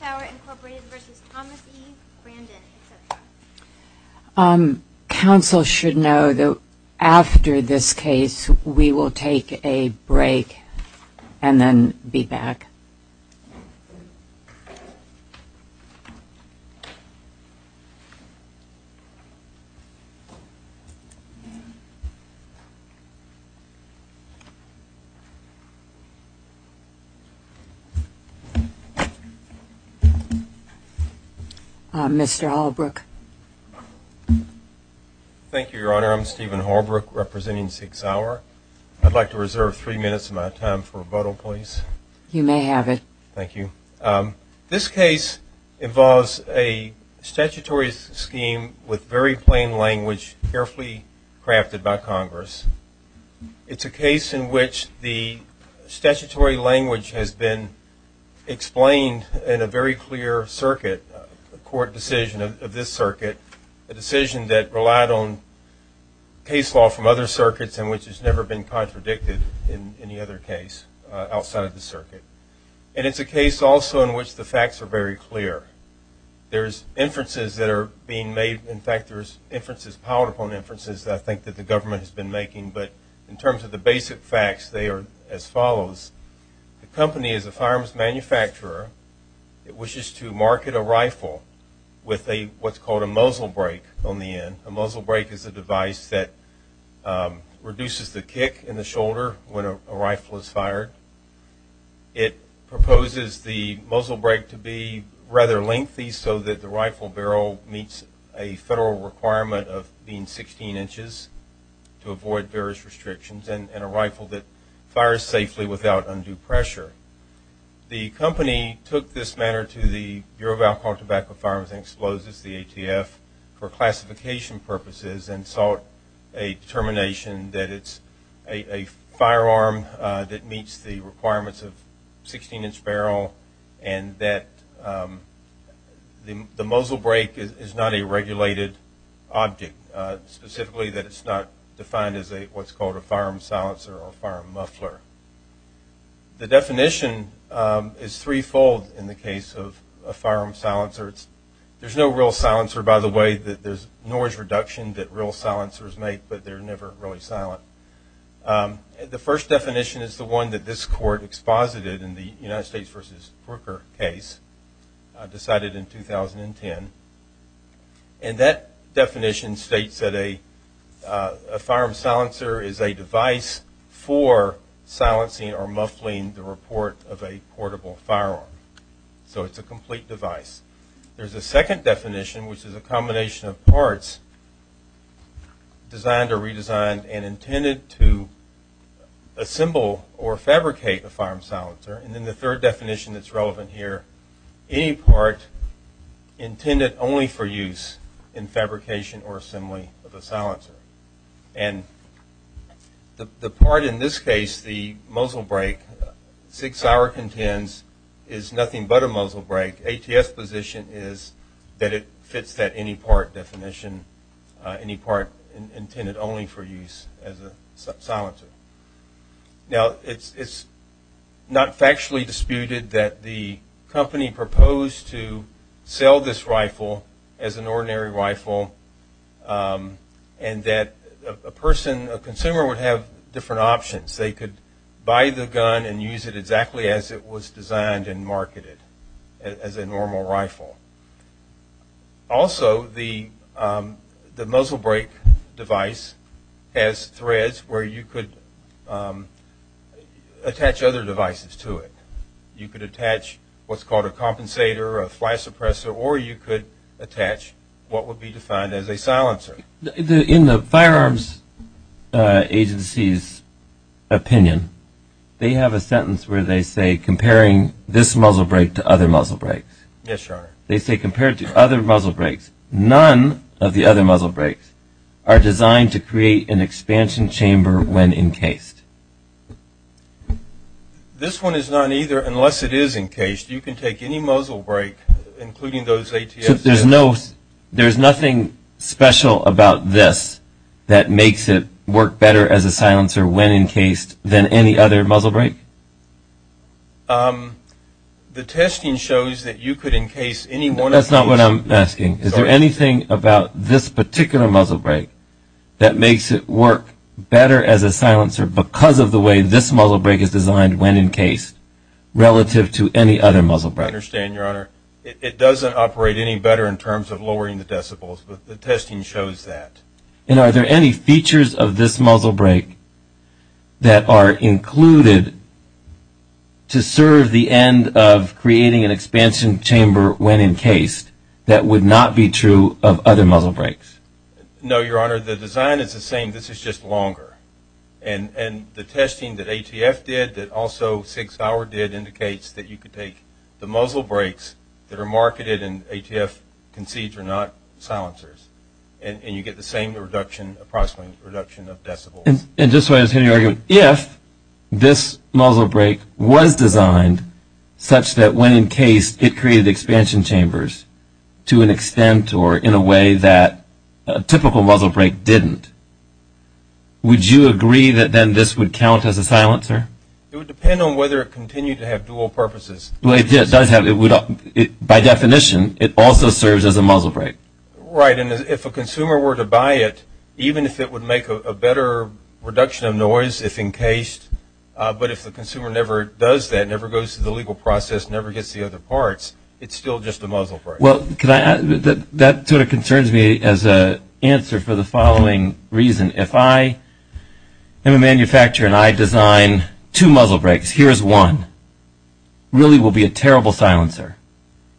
Sauer, Inc. v. Thomas E. Brandon, etc. Counsel should know that after this case we will take a break and then be back. Mr. Holbrook. Thank you, Your Honor. I'm Stephen Holbrook, representing SIG Sauer. I'd like to reserve three minutes of my time for a vote, please. You may have it. Thank you. This case involves a statutory scheme with very plain language carefully crafted by Congress. It's a case in which the statutory language has been explained in a very clear circuit, a court decision of this circuit, a decision that relied on case law from other circuits and which has never been contradicted in any other case outside of the circuit. And it's a case also in which the facts are very clear. There's inferences that are being made. In fact, there's inferences, powerful inferences, I think, that the government has been making. But in terms of the basic facts, they are as follows. The company is a firearms manufacturer. It wishes to market a rifle with what's called a muzzle brake on the end. A muzzle brake is a device that reduces the kick in the shoulder when a rifle is fired. It proposes the muzzle brake to be rather lengthy so that the rifle barrel meets a federal requirement of being 16 inches to avoid various restrictions and a rifle that fires safely without undue pressure. The company took this matter to the Bureau of Alcohol, Tobacco, Firearms, and Explosives, the ATF, for classification purposes and sought a determination that it's a firearm that meets the requirements of 16-inch barrel and that the muzzle brake is not a regulated object, specifically that it's not defined as what's called a firearm silencer or firearm muffler. The definition is threefold in the case of a firearm silencer. There's no real silencer, by the way. There's noise reduction that real silencers make, but they're never really silent. The first definition is the one that this court exposited in the United States v. Brooker case decided in 2010. And that definition states that a firearm silencer is a device for silencing or muffling the report of a portable firearm. So it's a complete device. There's a second definition, which is a combination of parts designed or redesigned and intended to assemble or fabricate a firearm silencer. And then the third definition that's relevant here, any part intended only for use in fabrication or assembly of a silencer. And the part in this case, the muzzle brake, Sig Sauer contends, is nothing but a muzzle brake. ATS position is that it fits that any part definition, any part intended only for use as a silencer. Now, it's not factually disputed that the company proposed to sell this rifle as an ordinary rifle and that a consumer would have different options. They could buy the gun and use it exactly as it was designed and marketed as a normal rifle. Also, the muzzle brake device has threads where you could attach other devices to it. You could attach what's called a compensator, a flash suppressor, or you could attach what would be defined as a silencer. In the firearms agency's opinion, they have a sentence where they say comparing this muzzle brake to other muzzle brakes. Yes, Your Honor. They say compared to other muzzle brakes, none of the other muzzle brakes are designed to create an expansion chamber when encased. This one is not either, unless it is encased. You can take any muzzle brake, including those ATFs. So there's nothing special about this that makes it work better as a silencer when encased than any other muzzle brake? The testing shows that you could encase any one of these. That's not what I'm asking. Is there anything about this particular muzzle brake that makes it work better as a silencer because of the way this muzzle brake is designed when encased relative to any other muzzle brake? I understand, Your Honor. It doesn't operate any better in terms of lowering the decibels, but the testing shows that. Are there any features of this muzzle brake that are included to serve the end of creating an expansion chamber when encased that would not be true of other muzzle brakes? No, Your Honor. The design is the same. This is just longer. And the testing that ATF did that also Sig Sauer did indicates that you could take the muzzle brakes that are marketed and ATF concedes are not silencers, and you get the same reduction, approximate reduction of decibels. And just so I understand your argument, if this muzzle brake was designed such that when encased, it created expansion chambers to an extent or in a way that a typical muzzle brake didn't, would you agree that then this would count as a silencer? It would depend on whether it continued to have dual purposes. By definition, it also serves as a muzzle brake. Right. And if a consumer were to buy it, even if it would make a better reduction of noise if encased, but if the consumer never does that, never goes through the legal process, never gets the other parts, it's still just a muzzle brake. Well, that sort of concerns me as an answer for the following reason. If I am a manufacturer and I design two muzzle brakes, here is one, really will be a terrible silencer.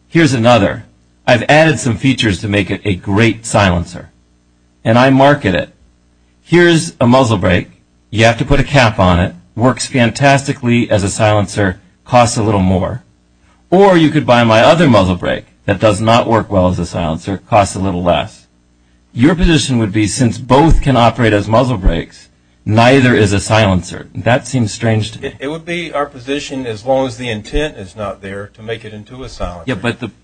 Here is another. I've added some features to make it a great silencer, and I market it. Here is a muzzle brake. You have to put a cap on it. Works fantastically as a silencer. Costs a little more. Or you could buy my other muzzle brake that does not work well as a silencer. Costs a little less. Your position would be since both can operate as muzzle brakes, neither is a silencer. That seems strange to me. Yeah, but the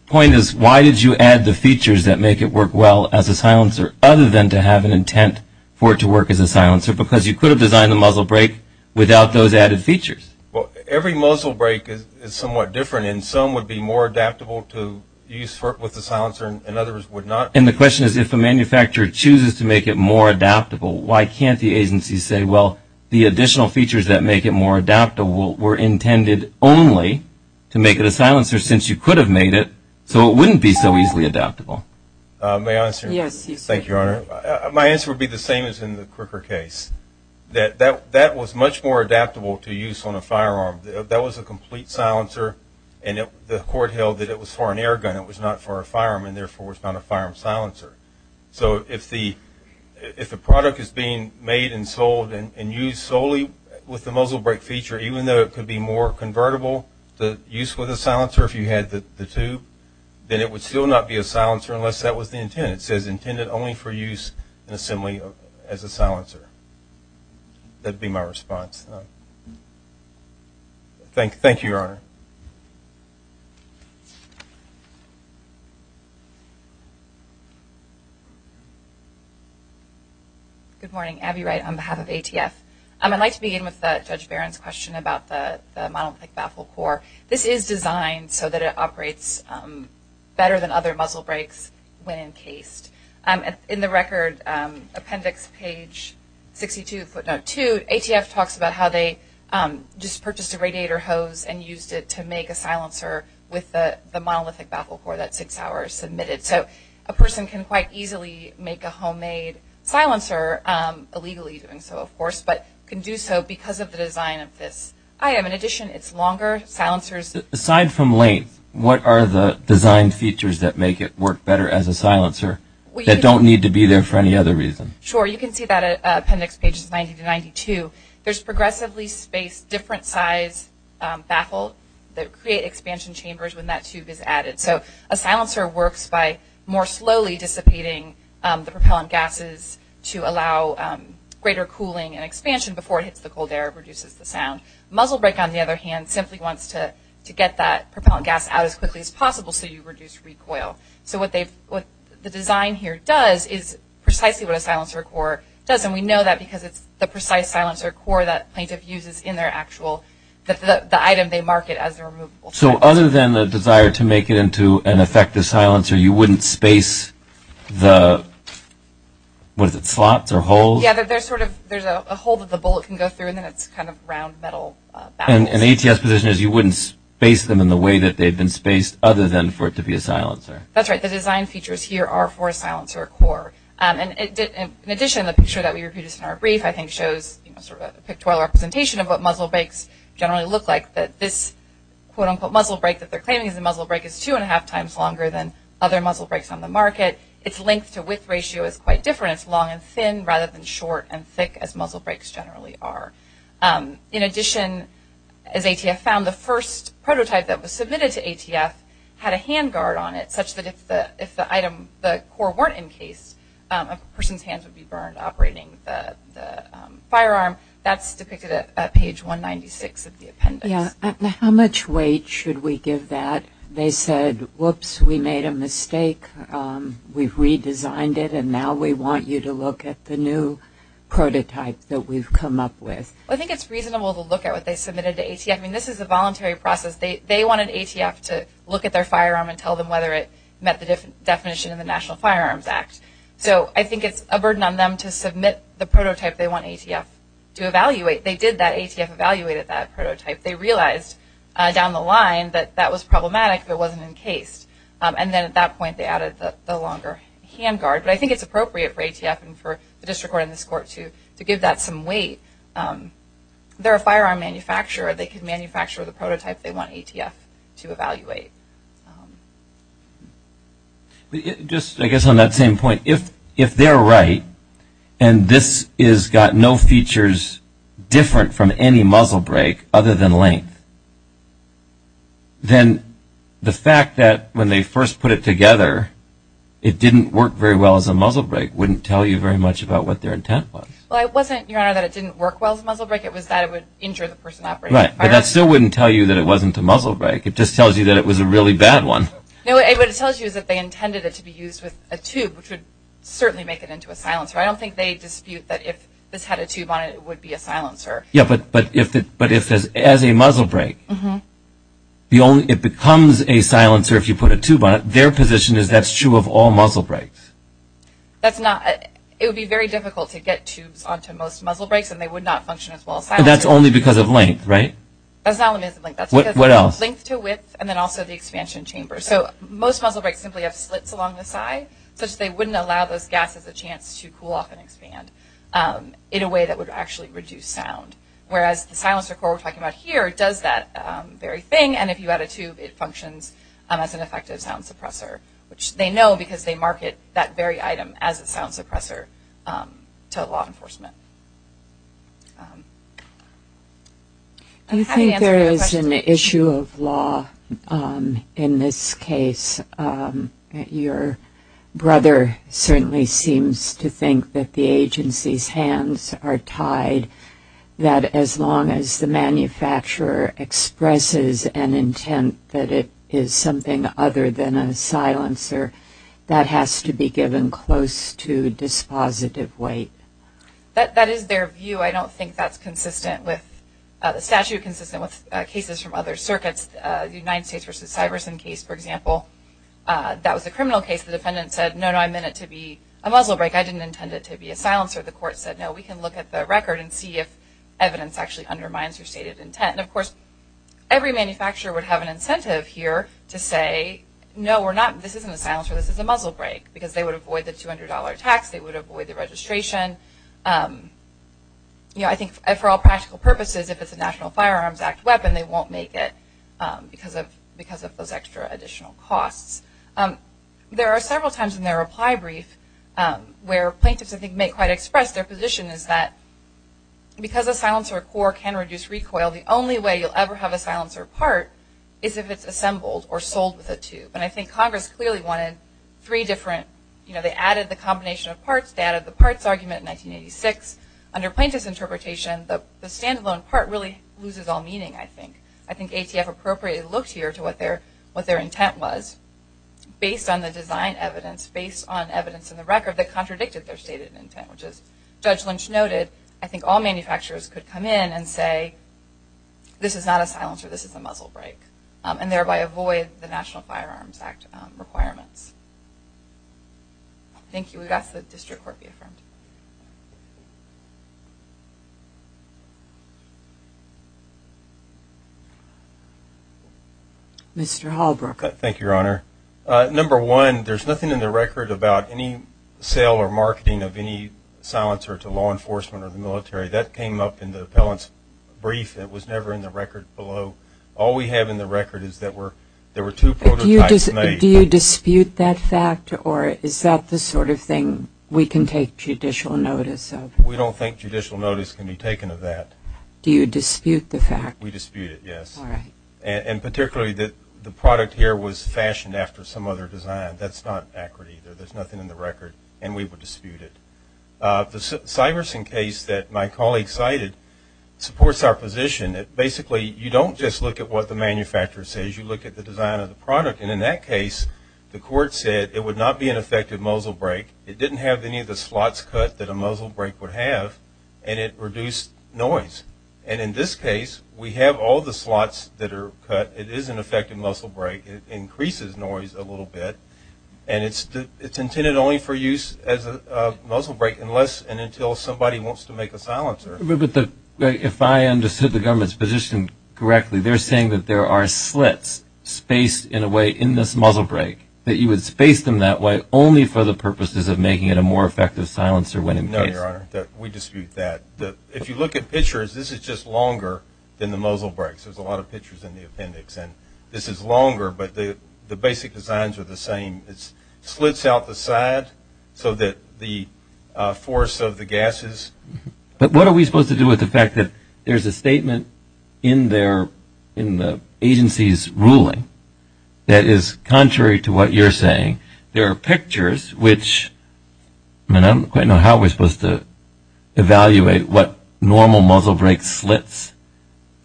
point is why did you add the features that make it work well as a silencer, other than to have an intent for it to work as a silencer? Because you could have designed the muzzle brake without those added features. Well, every muzzle brake is somewhat different, and some would be more adaptable to use with a silencer and others would not. And the question is if a manufacturer chooses to make it more adaptable, why can't the agency say, well, the additional features that make it more adaptable were intended only to make it a silencer since you could have made it so it wouldn't be so easily adaptable? May I answer? Thank you, Your Honor. My answer would be the same as in the Crooker case. That was much more adaptable to use on a firearm. That was a complete silencer, and the court held that it was for an air gun. It was not for a firearm and, therefore, was not a firearm silencer. So if the product is being made and sold and used solely with the muzzle brake feature, even though it could be more convertible to use with a silencer if you had the tube, then it would still not be a silencer unless that was the intent. It says intended only for use in assembly as a silencer. That would be my response. Thank you, Your Honor. Good morning. Abby Wright on behalf of ATF. I'd like to begin with Judge Barron's question about the monolithic baffle core. This is designed so that it operates better than other muzzle brakes when encased. In the record, appendix page 62, footnote 2, ATF talks about how they just purchased a radiator hose and used it to make a silencer with the monolithic baffle core that Sig Sauer submitted. So a person can quite easily make a homemade silencer, illegally doing so, of course, but can do so because of the design of this item. In addition, it's longer silencers. Aside from length, what are the design features that make it work better as a silencer that don't need to be there for any other reason? Sure. You can see that at appendix pages 90 to 92. There's progressively spaced different size baffle that create expansion chambers when that tube is added. So a silencer works by more slowly dissipating the propellant gases to allow greater cooling and expansion before it hits the cold air, reduces the sound. Muzzle brake, on the other hand, simply wants to get that propellant gas out as quickly as possible so you reduce recoil. So what the design here does is precisely what a silencer core does, and we know that because it's the precise silencer core that plaintiff uses in their actual, the item they market as their removable silencer. So other than the desire to make it into an effective silencer, you wouldn't space the, what is it, slots or holes? Yeah, there's sort of, there's a hole that the bullet can go through, and then it's kind of round metal. And the ATS position is you wouldn't space them in the way that they've been spaced other than for it to be a silencer. That's right. The design features here are for a silencer core. And in addition, the picture that we reproduced in our brief, I think, shows sort of a pictorial representation of what muzzle brakes generally look like, that this quote-unquote muzzle brake that they're claiming is a muzzle brake is two-and-a-half times longer than other muzzle brakes on the market. Its length-to-width ratio is quite different. It's long and thin rather than short and thick, as muzzle brakes generally are. In addition, as ATF found, the first prototype that was submitted to ATF had a hand guard on it such that if the core weren't encased, a person's hands would be burned operating the firearm. That's depicted at page 196 of the appendix. Yeah. How much weight should we give that? They said, whoops, we made a mistake, we've redesigned it, and now we want you to look at the new prototype that we've come up with. I think it's reasonable to look at what they submitted to ATF. I mean, this is a voluntary process. They wanted ATF to look at their firearm and tell them whether it met the definition of the National Firearms Act. So I think it's a burden on them to submit the prototype they want ATF to evaluate. They did that. ATF evaluated that prototype. They realized down the line that that was problematic, that it wasn't encased. And then at that point they added the longer hand guard. But I think it's appropriate for ATF and for the district court and this court to give that some weight. They're a firearm manufacturer. They can manufacture the prototype they want ATF to evaluate. Just, I guess, on that same point, if they're right and this has got no features different from any muzzle brake other than length, then the fact that when they first put it together it didn't work very well as a muzzle brake wouldn't tell you very much about what their intent was. Well, it wasn't, Your Honor, that it didn't work well as a muzzle brake. It was that it would injure the person operating the firearm. Right. But that still wouldn't tell you that it wasn't a muzzle brake. It just tells you that it was a really bad one. No, what it tells you is that they intended it to be used with a tube, which would certainly make it into a silencer. I don't think they dispute that if this had a tube on it it would be a silencer. Yeah, but if as a muzzle brake it becomes a silencer if you put a tube on it, their position is that's true of all muzzle brakes. It would be very difficult to get tubes onto most muzzle brakes and they would not function as well as silencers. That's only because of length, right? That's not only because of length. What else? Length to width and then also the expansion chamber. So most muzzle brakes simply have slits along the side such that they wouldn't allow those gases a chance to cool off and expand in a way that would actually reduce sound. Whereas the silencer cord we're talking about here does that very thing, and if you add a tube it functions as an effective sound suppressor, which they know because they market that very item as a sound suppressor to law enforcement. Do you think there is an issue of law in this case? Your brother certainly seems to think that the agency's hands are tied, that as long as the manufacturer expresses an intent that it is something other than a silencer, that has to be given close to dispositive weight. That is their view. I don't think that's consistent with the statute, consistent with cases from other circuits. The United States v. Cyberson case, for example, that was a criminal case. The defendant said, no, no, I meant it to be a muzzle brake. I didn't intend it to be a silencer. The court said, no, we can look at the record and see if evidence actually undermines your stated intent. And, of course, every manufacturer would have an incentive here to say, no, this isn't a silencer, this is a muzzle brake, because they would avoid the $200 tax, they would avoid the registration. I think for all practical purposes, if it's a National Firearms Act weapon, they won't make it because of those extra additional costs. There are several times in their reply brief where plaintiffs, I think, may quite express their position is that because a silencer core can reduce recoil, the only way you'll ever have a silencer part is if it's assembled or sold with a tube. And I think Congress clearly wanted three different, you know, they added the combination of parts, they added the parts argument in 1986. Under plaintiff's interpretation, the standalone part really loses all meaning, I think. I think ATF appropriately looked here to what their intent was based on the design evidence, based on evidence in the record that contradicted their stated intent, which as Judge Lynch noted, I think all manufacturers could come in and say, this is not a silencer, this is a muzzle brake, and thereby avoid the National Firearms Act requirements. Thank you. We'll ask that the District Court be affirmed. Mr. Hallbrook. Thank you, Your Honor. Number one, there's nothing in the record about any sale or marketing of any silencer to law enforcement or the military. That came up in the appellant's brief. It was never in the record below. All we have in the record is that there were two prototypes made. Do you dispute that fact, or is that the sort of thing we can take judicial notice of? We don't think judicial notice can be taken of that. Do you dispute the fact? We dispute it, yes. All right. And particularly that the product here was fashioned after some other design. That's not accurate either. There's nothing in the record, and we would dispute it. The Syverson case that my colleague cited supports our position. Basically, you don't just look at what the manufacturer says. You look at the design of the product. And in that case, the court said it would not be an effective muzzle brake. It didn't have any of the slots cut that a muzzle brake would have, and it reduced noise. And in this case, we have all the slots that are cut. It is an effective muzzle brake. It increases noise a little bit, and it's intended only for use as a muzzle brake unless and until somebody wants to make a silencer. But if I understood the government's position correctly, they're saying that there are slits spaced in a way in this muzzle brake, that you would space them that way only for the purposes of making it a more effective silencer when in case. No, Your Honor. We dispute that. If you look at pictures, this is just longer than the muzzle brakes. There's a lot of pictures in the appendix. And this is longer, but the basic designs are the same. It slits out the side so that the force of the gases. But what are we supposed to do with the fact that there's a statement in the agency's ruling that is contrary to what you're saying? There are pictures which, I mean, I don't quite know how we're supposed to evaluate what normal muzzle brake slits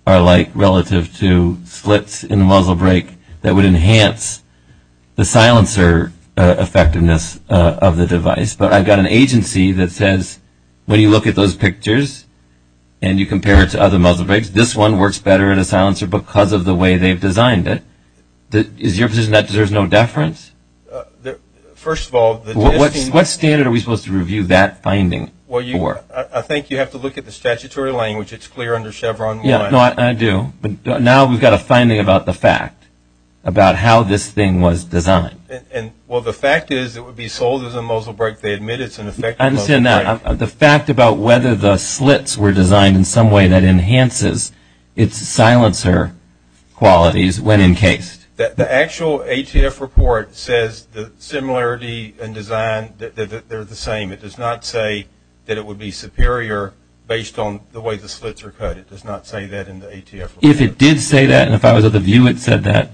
are like relative to slits in the muzzle brake that would enhance the silencer effectiveness of the device. But I've got an agency that says, when you look at those pictures and you compare it to other muzzle brakes, this one works better in a silencer because of the way they've designed it. Is your position that there's no deference? First of all, the testing. What standard are we supposed to review that finding for? Well, I think you have to look at the statutory language. It's clear under Chevron 1. Yeah, I do. But now we've got a finding about the fact, about how this thing was designed. Well, the fact is it would be sold as a muzzle brake. They admit it's an effective muzzle brake. I understand that. The fact about whether the slits were designed in some way that enhances its silencer qualities when encased. The actual ATF report says the similarity in design, that they're the same. It does not say that it would be superior based on the way the slits are cut. It does not say that in the ATF report. If it did say that and if I was at the view it said that,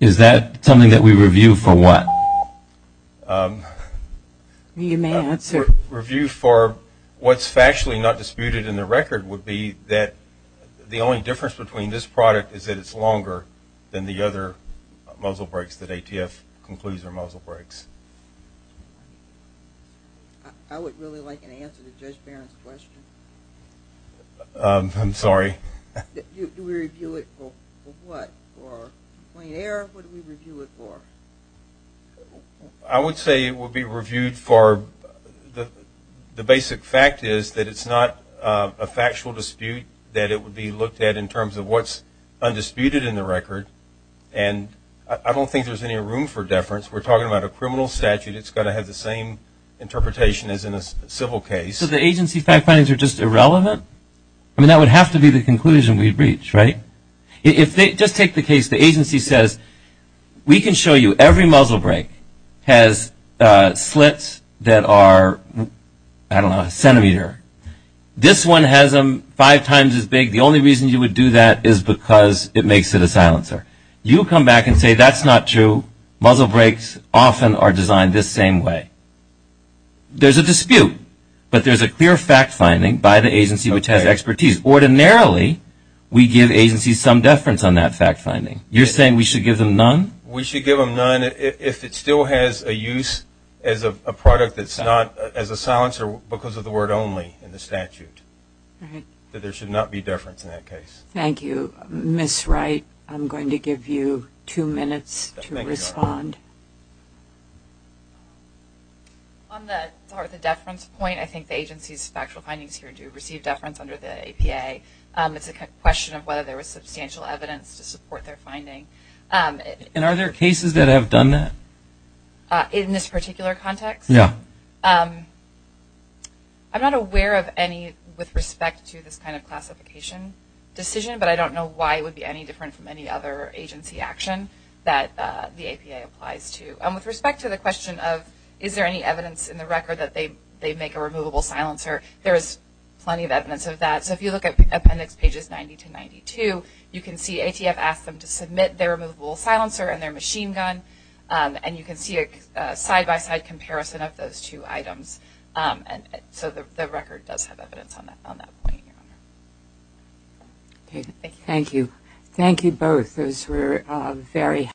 is that something that we review for what? You may answer. Review for what's factually not disputed in the record would be that the only difference between this product is that it's longer than the other muzzle brakes that ATF concludes are muzzle brakes. I would really like an answer to Judge Barron's question. I'm sorry. Do we review it for what? For complaint error? What do we review it for? I would say it would be reviewed for the basic fact is that it's not a factual dispute that it would be looked at in terms of what's undisputed in the record. And I don't think there's any room for deference. We're talking about a criminal statute. It's got to have the same interpretation as in a civil case. So the agency fact findings are just irrelevant? I mean, that would have to be the conclusion we'd reach, right? If they just take the case the agency says we can show you every muzzle brake has slits that are, I don't know, a centimeter. This one has them five times as big. The only reason you would do that is because it makes it a silencer. You come back and say that's not true. Muzzle brakes often are designed this same way. There's a dispute, but there's a clear fact finding by the agency which has expertise. Ordinarily, we give agencies some deference on that fact finding. You're saying we should give them none? We should give them none if it still has a use as a product that's not as a silencer because of the word only in the statute. There should not be deference in that case. Thank you. Ms. Wright, I'm going to give you two minutes to respond. On the deference point, I think the agency's factual findings here do receive deference under the APA. It's a question of whether there was substantial evidence to support their finding. And are there cases that have done that? In this particular context? Yeah. I'm not aware of any with respect to this kind of classification decision, but I don't know why it would be any different from any other agency action that the APA applies to. With respect to the question of is there any evidence in the record that they make a removable silencer, there is plenty of evidence of that. So if you look at appendix pages 90 to 92, you can see ATF asked them to submit their removable silencer and their machine gun, and you can see a side-by-side comparison of those two items. So the record does have evidence on that point, Your Honor. Thank you. Thank you both. Those were very helpful.